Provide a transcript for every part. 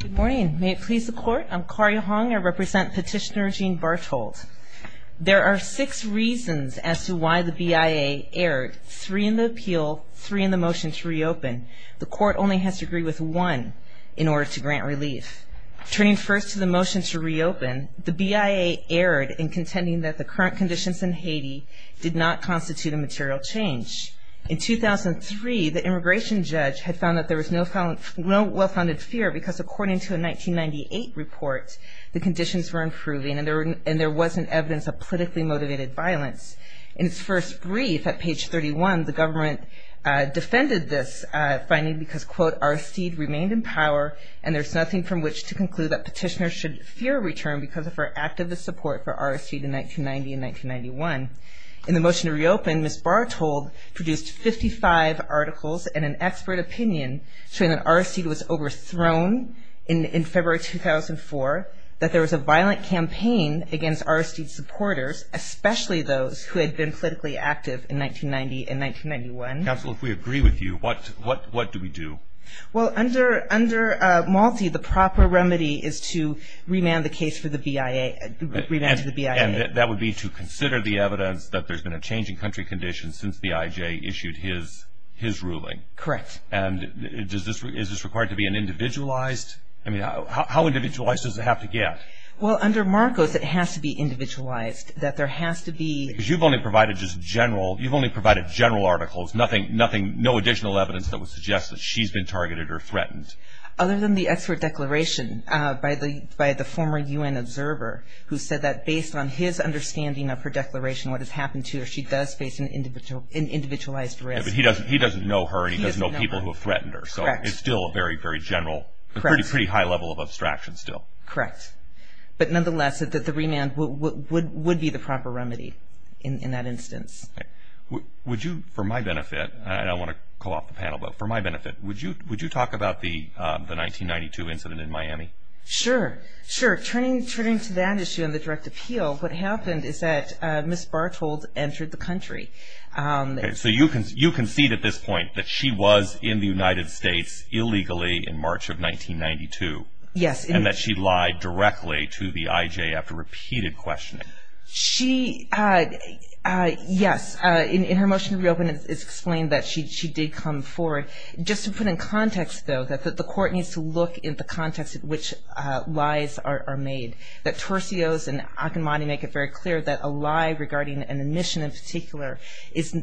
Good morning, may it please the Court, I'm Kari Hong, I represent Petitioner Gene Barthold. There are six reasons as to why the BIA erred, three in the appeal, three in the motion to reopen. The Court only has to agree with one in order to grant relief. Turning first to the motion to reopen, the BIA erred in contending that the current conditions in Haiti did not constitute a material change. In 2003, the immigration judge had found that there was no well-founded fear because according to a 1998 report, the conditions were improving and there wasn't evidence of politically motivated violence. In its first brief at page 31, the government defended this finding because, quote, our seed remained in power and there's nothing from which to conclude that petitioners should fear return because of our activist support for our seed in 1990 and 1991. In the motion to reopen, Ms. Barthold produced 55 articles and an expert opinion showing that our seed was overthrown in February 2004, that there was a violent campaign against our seed supporters, especially those who had been politically active in 1990 and 1991. Counsel, if we agree with you, what do we do? Well, under Malti, the proper remedy is to remand the case for the BIA, remand to the BIA. And that would be to consider the evidence that there's been a change in country conditions since the IJ issued his ruling. Correct. And is this required to be an individualized? I mean, how individualized does it have to get? Well, under Marcos, it has to be individualized, that there has to be... Because you've only provided just general, you've only provided general articles, nothing, no additional evidence that would suggest that she's been targeted or threatened. Other than the expert declaration by the former UN observer, who said that based on his understanding of her declaration, what has happened to her, she does face an individualized risk. But he doesn't know her and he doesn't know people who have threatened her. Correct. So it's still a very, very general, a pretty high level of abstraction still. Correct. But nonetheless, the remand would be the proper remedy in that instance. Would you, for my benefit, and I don't want to call off the panel, but for my benefit, would you talk about the 1992 incident in Miami? Sure. Sure. Turning to that issue and the direct appeal, what happened is that Ms. Barthold entered the country. So you concede at this point that she was in the United States illegally in March of 1992. Yes. And that she lied directly to the IJ after repeated questioning. She, yes. In her motion to reopen, it's explained that she did come forward. Just to put in context, though, that the court needs to look at the context in which lies are made, that Torsio's and Akinmati make it very clear that a lie regarding an admission in particular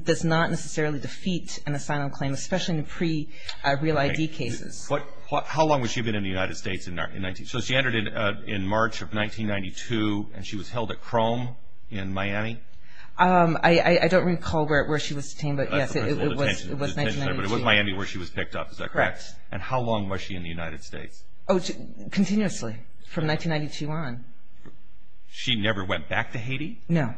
does not necessarily defeat an asylum claim, especially in pre-Real ID cases. How long was she been in the United States in 1992? So she entered in March of 1992, and she was held at Crome in Miami? I don't recall where she was detained, but, yes, it was 1992. But it was Miami where she was picked up, is that correct? Correct. And how long was she in the United States? Continuously from 1992 on. She never went back to Haiti? No.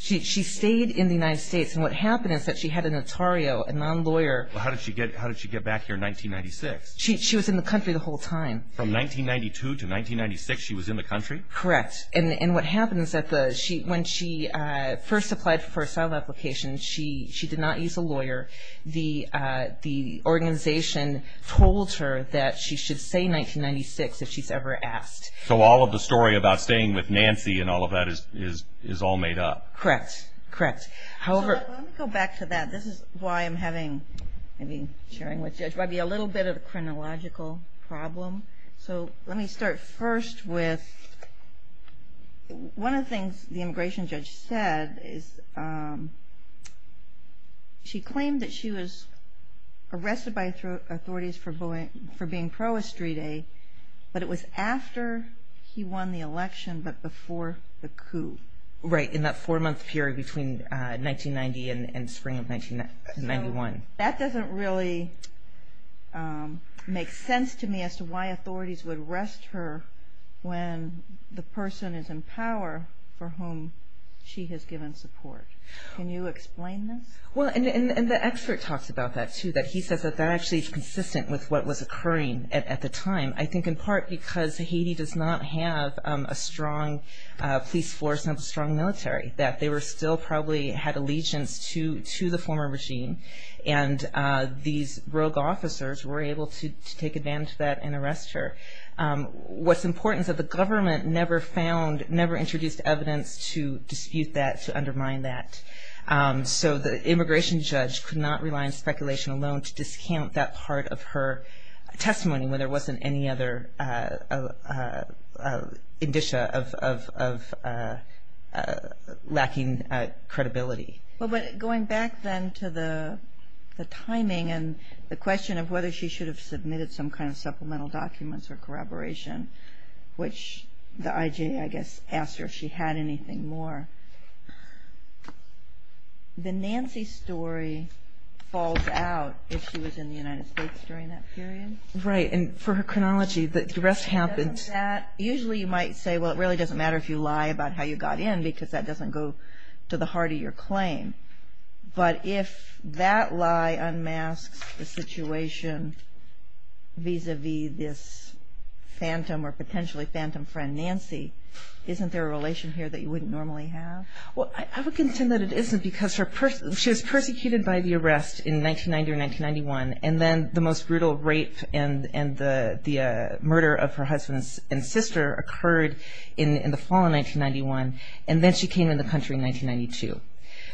She stayed in the United States, and what happened is that she had a notario, a non-lawyer. How did she get back here in 1996? She was in the country the whole time. From 1992 to 1996 she was in the country? Correct. And what happens is that when she first applied for an asylum application, she did not use a lawyer. The organization told her that she should stay in 1996 if she's ever asked. So all of the story about staying with Nancy and all of that is all made up? Correct. Correct. So let me go back to that. This is why I'm having, maybe sharing with you, a little bit of a chronological problem. So let me start first with one of the things the immigration judge said. She claimed that she was arrested by authorities for being pro-Estrite, but it was after he won the election but before the coup. Right, in that four-month period between 1990 and spring of 1991. So that doesn't really make sense to me as to why authorities would arrest her when the person is in power for whom she has given support. Can you explain this? Well, and the expert talks about that, too, that he says that that actually is consistent with what was occurring at the time. I think in part because Haiti does not have a strong police force and a strong military, that they still probably had allegiance to the former regime, and these rogue officers were able to take advantage of that and arrest her. What's important is that the government never found, never introduced evidence to dispute that, to undermine that. So the immigration judge could not rely on speculation alone to discount that part of her testimony when there wasn't any other indicia of lacking credibility. Going back then to the timing and the question of whether she should have submitted some kind of supplemental documents or corroboration, which the IJ, I guess, asked her if she had anything more. The Nancy story falls out if she was in the United States during that period. Right, and for her chronology, the arrest happened. Usually you might say, well, it really doesn't matter if you lie about how you got in because that doesn't go to the heart of your claim. But if that lie unmasks the situation vis-a-vis this phantom or potentially phantom friend, Nancy, isn't there a relation here that you wouldn't normally have? Well, I would contend that it isn't because she was persecuted by the arrest in 1990 or 1991, and then the most brutal rape and the murder of her husband and sister occurred in the fall of 1991, and then she came into the country in 1992.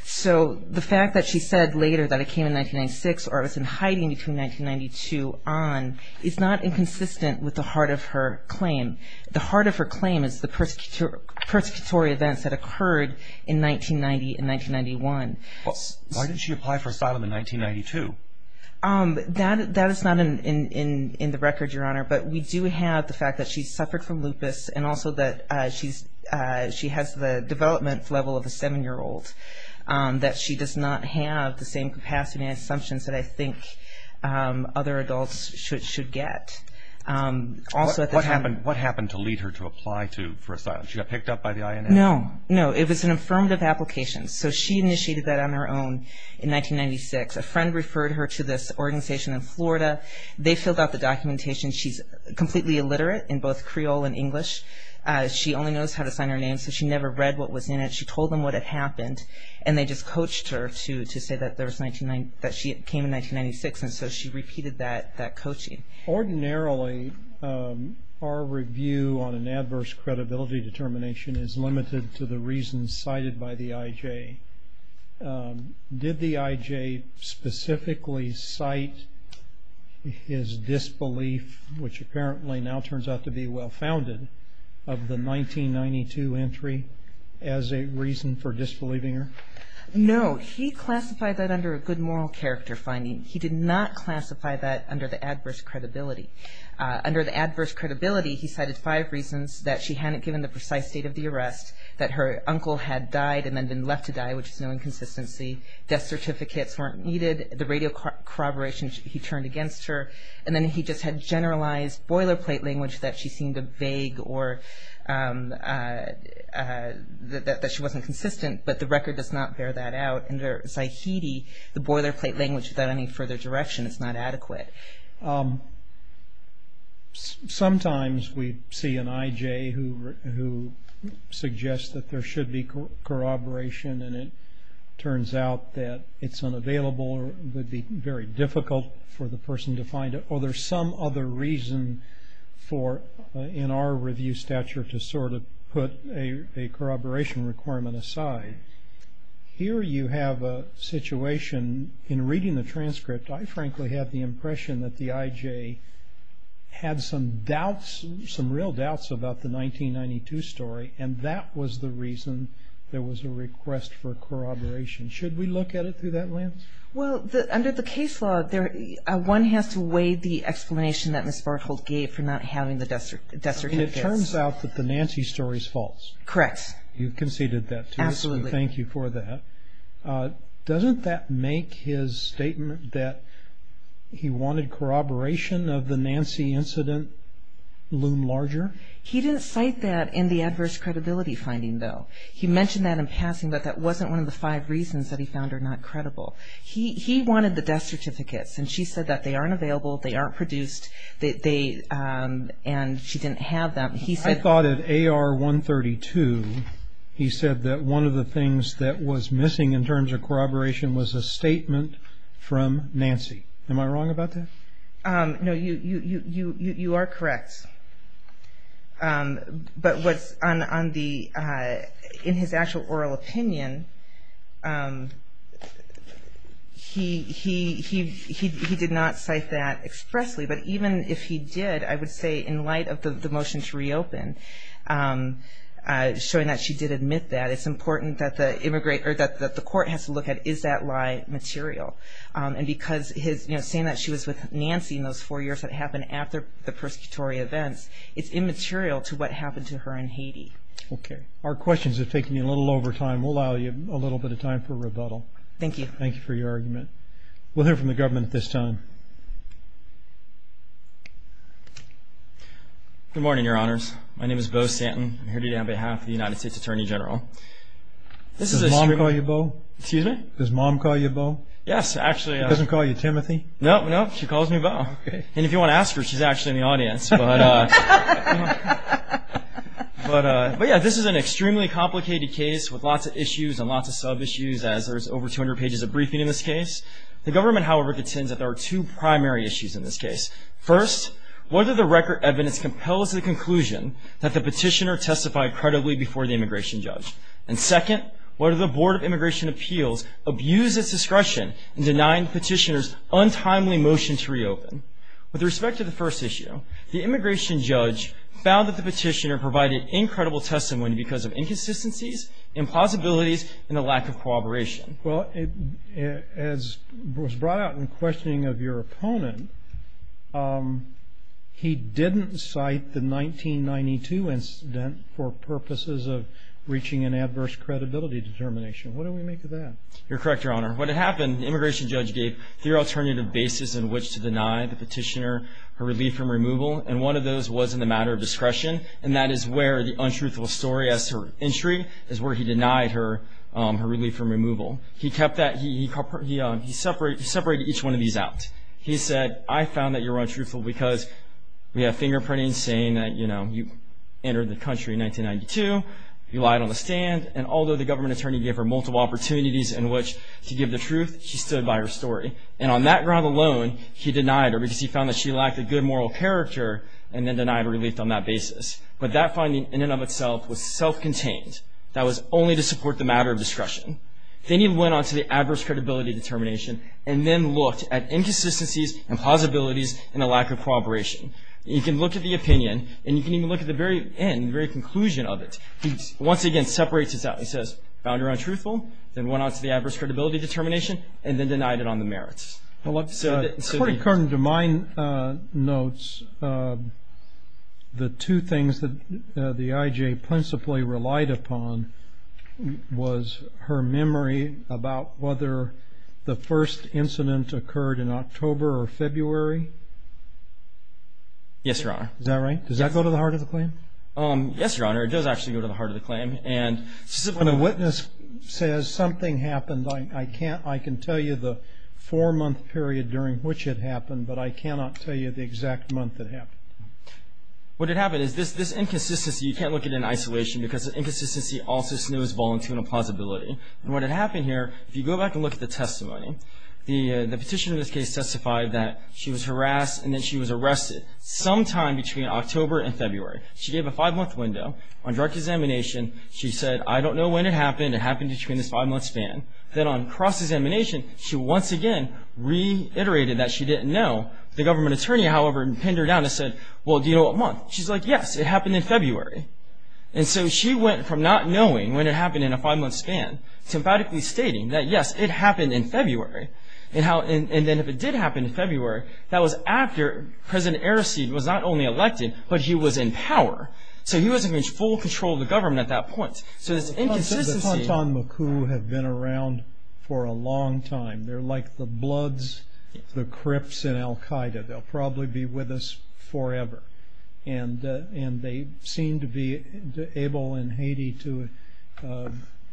So the fact that she said later that it came in 1996 or it was in hiding between 1992 on is not inconsistent with the heart of her claim. The heart of her claim is the persecutory events that occurred in 1990 and 1991. Why didn't she apply for asylum in 1992? That is not in the record, Your Honor, but we do have the fact that she suffered from lupus and also that she has the development level of a 7-year-old, that she does not have the same capacity and assumptions that I think other adults should get. What happened to lead her to apply for asylum? She got picked up by the INA? No, no, it was an affirmative application. So she initiated that on her own in 1996. A friend referred her to this organization in Florida. They filled out the documentation. She's completely illiterate in both Creole and English. She only knows how to sign her name, so she never read what was in it. She told them what had happened, and they just coached her to say that she came in 1996, and so she repeated that coaching. Ordinarily, our review on an adverse credibility determination is limited to the reasons cited by the IJ. Did the IJ specifically cite his disbelief, which apparently now turns out to be well-founded, of the 1992 entry as a reason for disbelieving her? No. He classified that under a good moral character finding. He did not classify that under the adverse credibility. Under the adverse credibility, he cited five reasons that she hadn't given the precise date of the arrest, that her uncle had died and then been left to die, which is no inconsistency, death certificates weren't needed, the radio corroboration he turned against her, and then he just had generalized boilerplate language that she seemed vague or that she wasn't consistent, but the record does not bear that out. Under Zahidi, the boilerplate language without any further direction is not adequate. Sometimes we see an IJ who suggests that there should be corroboration, and it turns out that it's unavailable or would be very difficult for the person to find it, or there's some other reason for, in our review stature, to sort of put a corroboration requirement aside. Here you have a situation, in reading the transcript, I frankly had the impression that the IJ had some doubts, some real doubts about the 1992 story, and that was the reason there was a request for corroboration. Should we look at it through that lens? Well, under the case law, one has to weigh the explanation that Ms. Barkholt gave for not having the death certificate. It turns out that the Nancy story is false. Correct. You conceded that to us, so thank you for that. Doesn't that make his statement that he wanted corroboration of the Nancy incident loom larger? He didn't cite that in the adverse credibility finding, though. He mentioned that in passing, but that wasn't one of the five reasons that he found her not credible. He wanted the death certificates, and she said that they aren't available, they aren't produced, and she didn't have them. I thought at AR 132 he said that one of the things that was missing in terms of corroboration was a statement from Nancy. Am I wrong about that? No, you are correct. But in his actual oral opinion, he did not cite that expressly. But even if he did, I would say in light of the motion to reopen, showing that she did admit that, it's important that the court has to look at is that lie material. And because saying that she was with Nancy in those four years that happened after the persecutory events, it's immaterial to what happened to her in Haiti. Okay. Our questions are taking a little over time. We'll allow you a little bit of time for rebuttal. Thank you. Thank you for your argument. We'll hear from the government at this time. Good morning, Your Honors. My name is Bo Stanton. I'm here today on behalf of the United States Attorney General. Does Mom call you Bo? Excuse me? Does Mom call you Bo? Yes, actually. She doesn't call you Timothy? No, no. She calls me Bo. Okay. And if you want to ask her, she's actually in the audience. But, yeah, this is an extremely complicated case with lots of issues and lots of sub-issues, as there's over 200 pages of briefing in this case. The government, however, contends that there are two primary issues in this case. First, whether the record evidence compels the conclusion that the petitioner testified credibly before the immigration judge. And second, whether the Board of Immigration Appeals abused its discretion in denying the petitioner's untimely motion to reopen. With respect to the first issue, the immigration judge found that the petitioner provided incredible testimony because of inconsistencies, impossibilities, and a lack of cooperation. Well, as was brought out in questioning of your opponent, he didn't cite the 1992 incident for purposes of breaching an adverse credibility determination. What do we make of that? You're correct, Your Honor. What had happened, the immigration judge gave three alternative bases in which to deny the petitioner her relief from removal, and one of those was in the matter of discretion, and that is where the untruthful story as to her entry is where he denied her relief from removal. He kept that. He separated each one of these out. He said, I found that you're untruthful because we have fingerprinting saying that, you know, you entered the country in 1992, you lied on the stand, and although the government attorney gave her multiple opportunities in which to give the truth, she stood by her story. And on that ground alone, he denied her because he found that she lacked a good moral character and then denied her relief on that basis. But that finding in and of itself was self-contained. That was only to support the matter of discretion. Then he went on to the adverse credibility determination and then looked at inconsistencies and plausibilities and a lack of cooperation. You can look at the opinion, and you can even look at the very end, the very conclusion of it. He once again separates it out. He says, found her untruthful, then went on to the adverse credibility determination, and then denied it on the merits. Well, it's quite current to my notes. The two things that the IJ principally relied upon was her memory about whether the first incident occurred in October or February. Yes, Your Honor. Is that right? Does that go to the heart of the claim? Yes, Your Honor. It does actually go to the heart of the claim. And when a witness says something happened, I can tell you the four-month period during which it happened, but I cannot tell you the exact month it happened. What had happened is this inconsistency you can't look at in isolation because the inconsistency also snows volunteer and plausibility. And what had happened here, if you go back and look at the testimony, the petitioner in this case testified that she was harassed, and then she was arrested sometime between October and February. She gave a five-month window on drug examination. She said, I don't know when it happened. It happened between this five-month span. Then on cross-examination, she once again reiterated that she didn't know. The government attorney, however, pinned her down and said, well, do you know what month? She's like, yes, it happened in February. And so she went from not knowing when it happened in a five-month span to emphatically stating that, yes, it happened in February. And then if it did happen in February, that was after President Araseed was not only elected, but he was in power. So he wasn't in full control of the government at that point. So this inconsistency. The Tantan Maku have been around for a long time. They're like the bloods, the crypts in Al-Qaeda. They'll probably be with us forever. And they seem to be able in Haiti to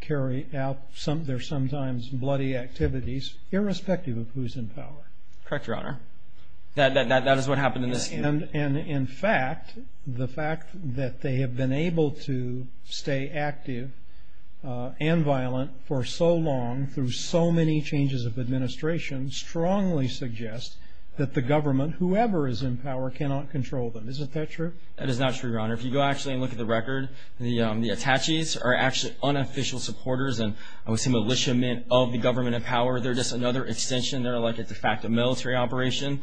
carry out their sometimes bloody activities, irrespective of who's in power. Correct, Your Honor. That is what happened in this case. And, in fact, the fact that they have been able to stay active and violent for so long through so many changes of administration strongly suggests that the government, whoever is in power, cannot control them. Isn't that true? That is not true, Your Honor. If you go actually and look at the record, the Ataches are actually unofficial supporters and I would say militiamen of the government in power. They're just another extension. They're like a de facto military operation.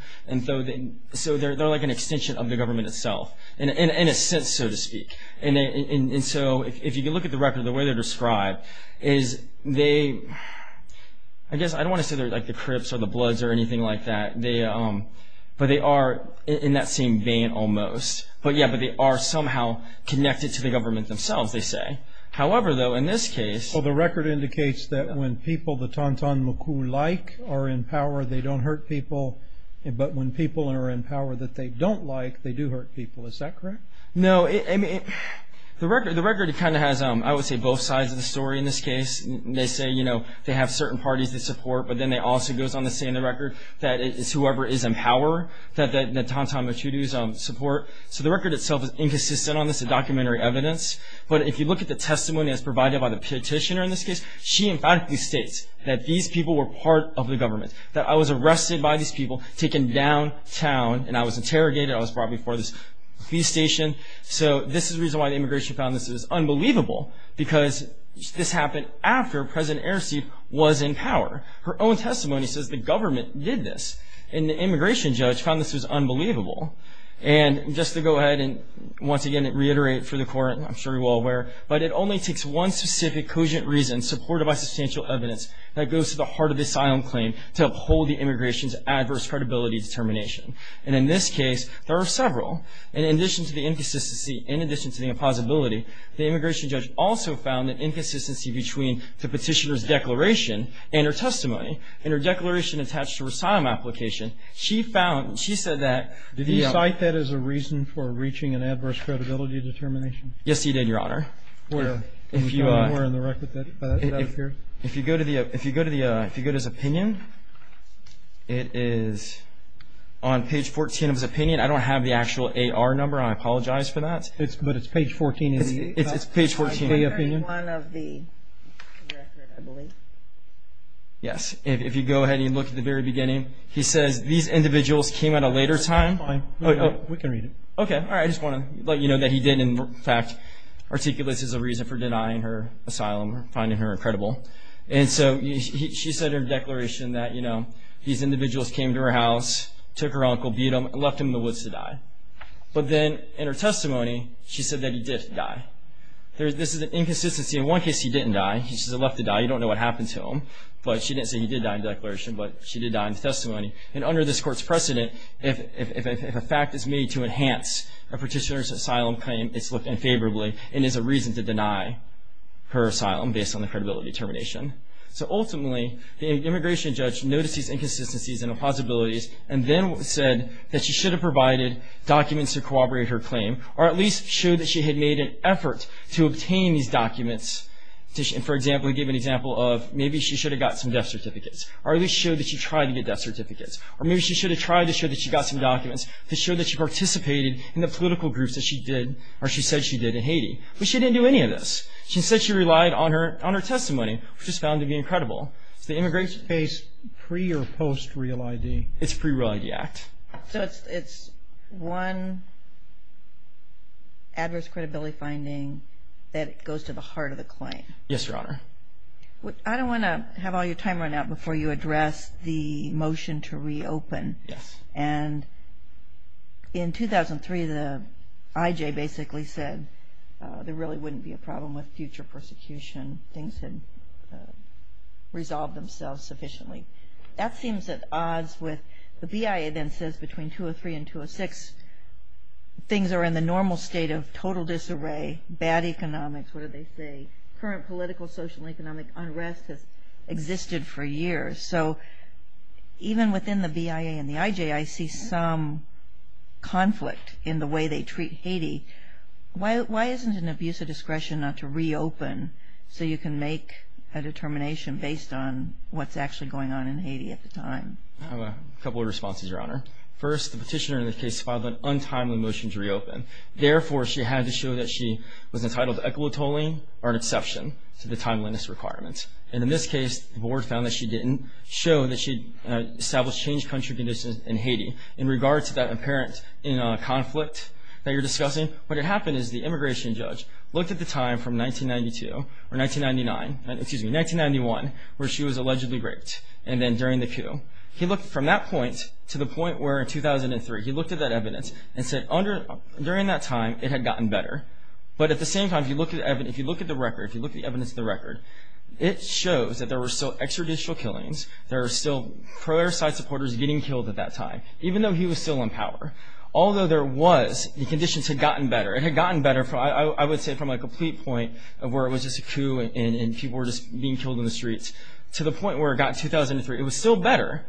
So they're like an extension of the government itself, in a sense, so to speak. And so if you look at the record, the way they're described is they, I guess I don't want to say they're like the crypts or the bloods or anything like that, but they are in that same vein almost. But, yeah, they are somehow connected to the government themselves, they say. However, though, in this case... Well, the record indicates that when people the Tantan Maku like are in power, they don't hurt people, but when people are in power that they don't like, they do hurt people. Is that correct? No. I mean, the record kind of has, I would say, both sides of the story in this case. They say, you know, they have certain parties they support, but then it also goes on to say in the record that it's whoever is in power that the Tantan Maku do support. So the record itself is inconsistent on this, a documentary evidence. But if you look at the testimony that's provided by the petitioner in this case, she emphatically states that these people were part of the government, that I was arrested by these people, taken downtown, and I was interrogated, I was brought before this police station. So this is the reason why the immigration found this is unbelievable, because this happened after President Erceg was in power. Her own testimony says the government did this, and the immigration judge found this was unbelievable. And just to go ahead and once again reiterate for the court, and I'm sure you're all aware, but it only takes one specific, cogent reason, supported by substantial evidence, that goes to the heart of the asylum claim to uphold the immigration's adverse credibility determination. And in this case, there are several. And in addition to the inconsistency, in addition to the impossibility, the immigration judge also found the inconsistency between the petitioner's declaration and her testimony. In her declaration attached to her asylum application, she found, she said that the --. Do you cite that as a reason for reaching an adverse credibility determination? Yes, he did, Your Honor. If you go to his opinion, it is on page 14 of his opinion. I don't have the actual AR number. I apologize for that. But it's page 14 in the opinion? It's page 14 in the opinion. Yes, if you go ahead and you look at the very beginning, he says these individuals came at a later time. We can read it. Okay, all right. I just want to let you know that he did, in fact, articulate this as a reason for denying her asylum or finding her incredible. And so she said in her declaration that, you know, these individuals came to her house, took her uncle, beat him, and left him in the woods to die. But then in her testimony, she said that he did die. This is an inconsistency. In one case, he didn't die. He was just left to die. You don't know what happened to him. But she didn't say he did die in the declaration, but she did die in the testimony. And under this court's precedent, if a fact is made to enhance a petitioner's asylum claim, it's looked unfavorably and is a reason to deny her asylum based on the credibility determination. So ultimately, the immigration judge noticed these inconsistencies and the possibilities and then said that she should have provided documents to corroborate her claim or at least showed that she had made an effort to obtain these documents. For example, he gave an example of maybe she should have got some death certificates or at least showed that she tried to get death certificates. Or maybe she should have tried to show that she got some documents to show that she participated in the political groups that she did or she said she did in Haiti. But she didn't do any of this. She said she relied on her testimony, which is found to be incredible. Is the immigration case pre- or post-Real ID? It's pre-Real ID Act. So it's one adverse credibility finding that goes to the heart of the claim. Yes, Your Honor. I don't want to have all your time run out before you address the motion to reopen. Yes. And in 2003, the IJ basically said there really wouldn't be a problem with future persecution. Things had resolved themselves sufficiently. That seems at odds with the BIA then says between 203 and 206, things are in the normal state of total disarray, bad economics, what do they say, current political, social, economic unrest has existed for years. So even within the BIA and the IJ, I see some conflict in the way they treat Haiti. Why isn't an abuse of discretion not to reopen so you can make a determination based on what's actually going on in Haiti at the time? I have a couple of responses, Your Honor. First, the petitioner in the case filed an untimely motion to reopen. Therefore, she had to show that she was entitled to equitoling or an exception to the timeliness requirement. And in this case, the board found that she didn't show that she had established changed country conditions in Haiti. In regards to that apparent conflict that you're discussing, what had happened is the immigration judge looked at the time from 1992 or 1999, excuse me, 1991, where she was allegedly raped and then during the coup. He looked from that point to the point where in 2003, he looked at that evidence and said during that time it had gotten better. But at the same time, if you look at the record, if you look at the evidence of the record, it shows that there were still extrajudicial killings. There were still pro-airside supporters getting killed at that time, even though he was still in power. Although there was, the conditions had gotten better. It had gotten better, I would say, from a complete point of where it was just a coup and people were just being killed in the streets to the point where it got to 2003. It was still better,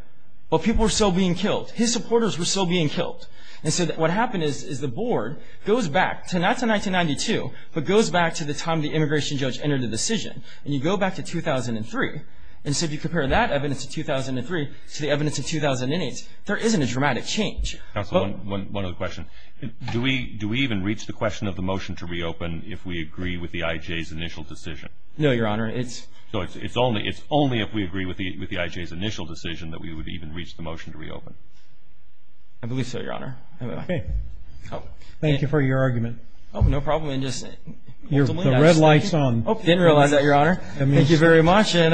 but people were still being killed. His supporters were still being killed. And so what happened is the board goes back to not to 1992, but goes back to the time the immigration judge entered the decision. And you go back to 2003, and so if you compare that evidence of 2003 to the evidence of 2008, there isn't a dramatic change. Counsel, one other question. Do we even reach the question of the motion to reopen if we agree with the IJ's initial decision? No, Your Honor. It's only if we agree with the IJ's initial decision that we would even reach the motion to reopen. I believe so, Your Honor. Okay. Thank you for your argument. Oh, no problem. The red light's on. I didn't realize that, Your Honor. Thank you very much. And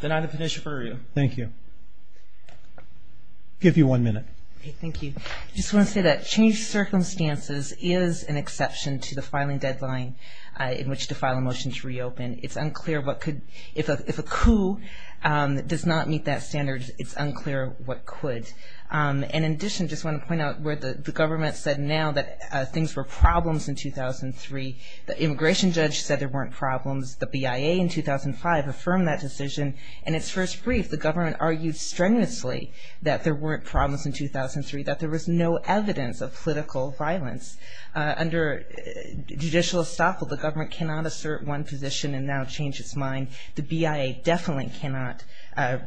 then I have a petition for you. Thank you. I'll give you one minute. Thank you. I just want to say that changed circumstances is an exception to the filing deadline in which to file a motion to reopen. It's unclear what could, if a coup does not meet that standard, it's unclear what could. And in addition, I just want to point out where the government said now that things were problems in 2003. The immigration judge said there weren't problems. The BIA in 2005 affirmed that decision. In its first brief, the government argued strenuously that there weren't problems in 2003, that there was no evidence of political violence. Under judicial estoppel, the government cannot assert one position and now change its mind. The BIA definitely cannot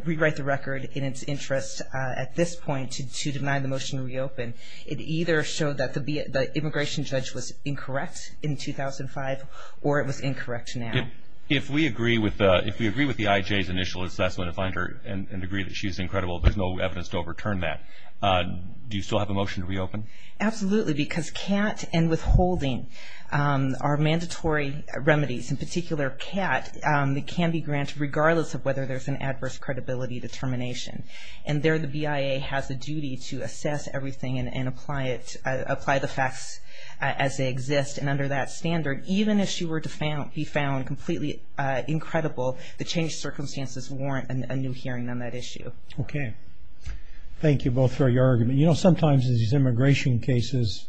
rewrite the record in its interest at this point to deny the motion to reopen. It either showed that the immigration judge was incorrect in 2005 or it was incorrect now. If we agree with the IJ's initial assessment and agree that she's incredible, there's no evidence to overturn that. Do you still have a motion to reopen? Absolutely, because CAT and withholding are mandatory remedies. In particular, CAT can be granted regardless of whether there's an adverse credibility determination. And there the BIA has a duty to assess everything and apply the facts as they exist. And under that standard, even if she were to be found completely incredible, the changed circumstances warrant a new hearing on that issue. Okay. Thank you both for your argument. You know sometimes in these immigration cases,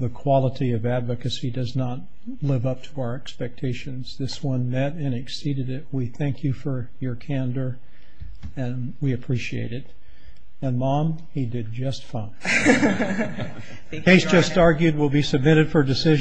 the quality of advocacy does not live up to our expectations. This one met and exceeded it. We thank you for your candor and we appreciate it. And mom, he did just fine. The case just argued will be submitted for decision.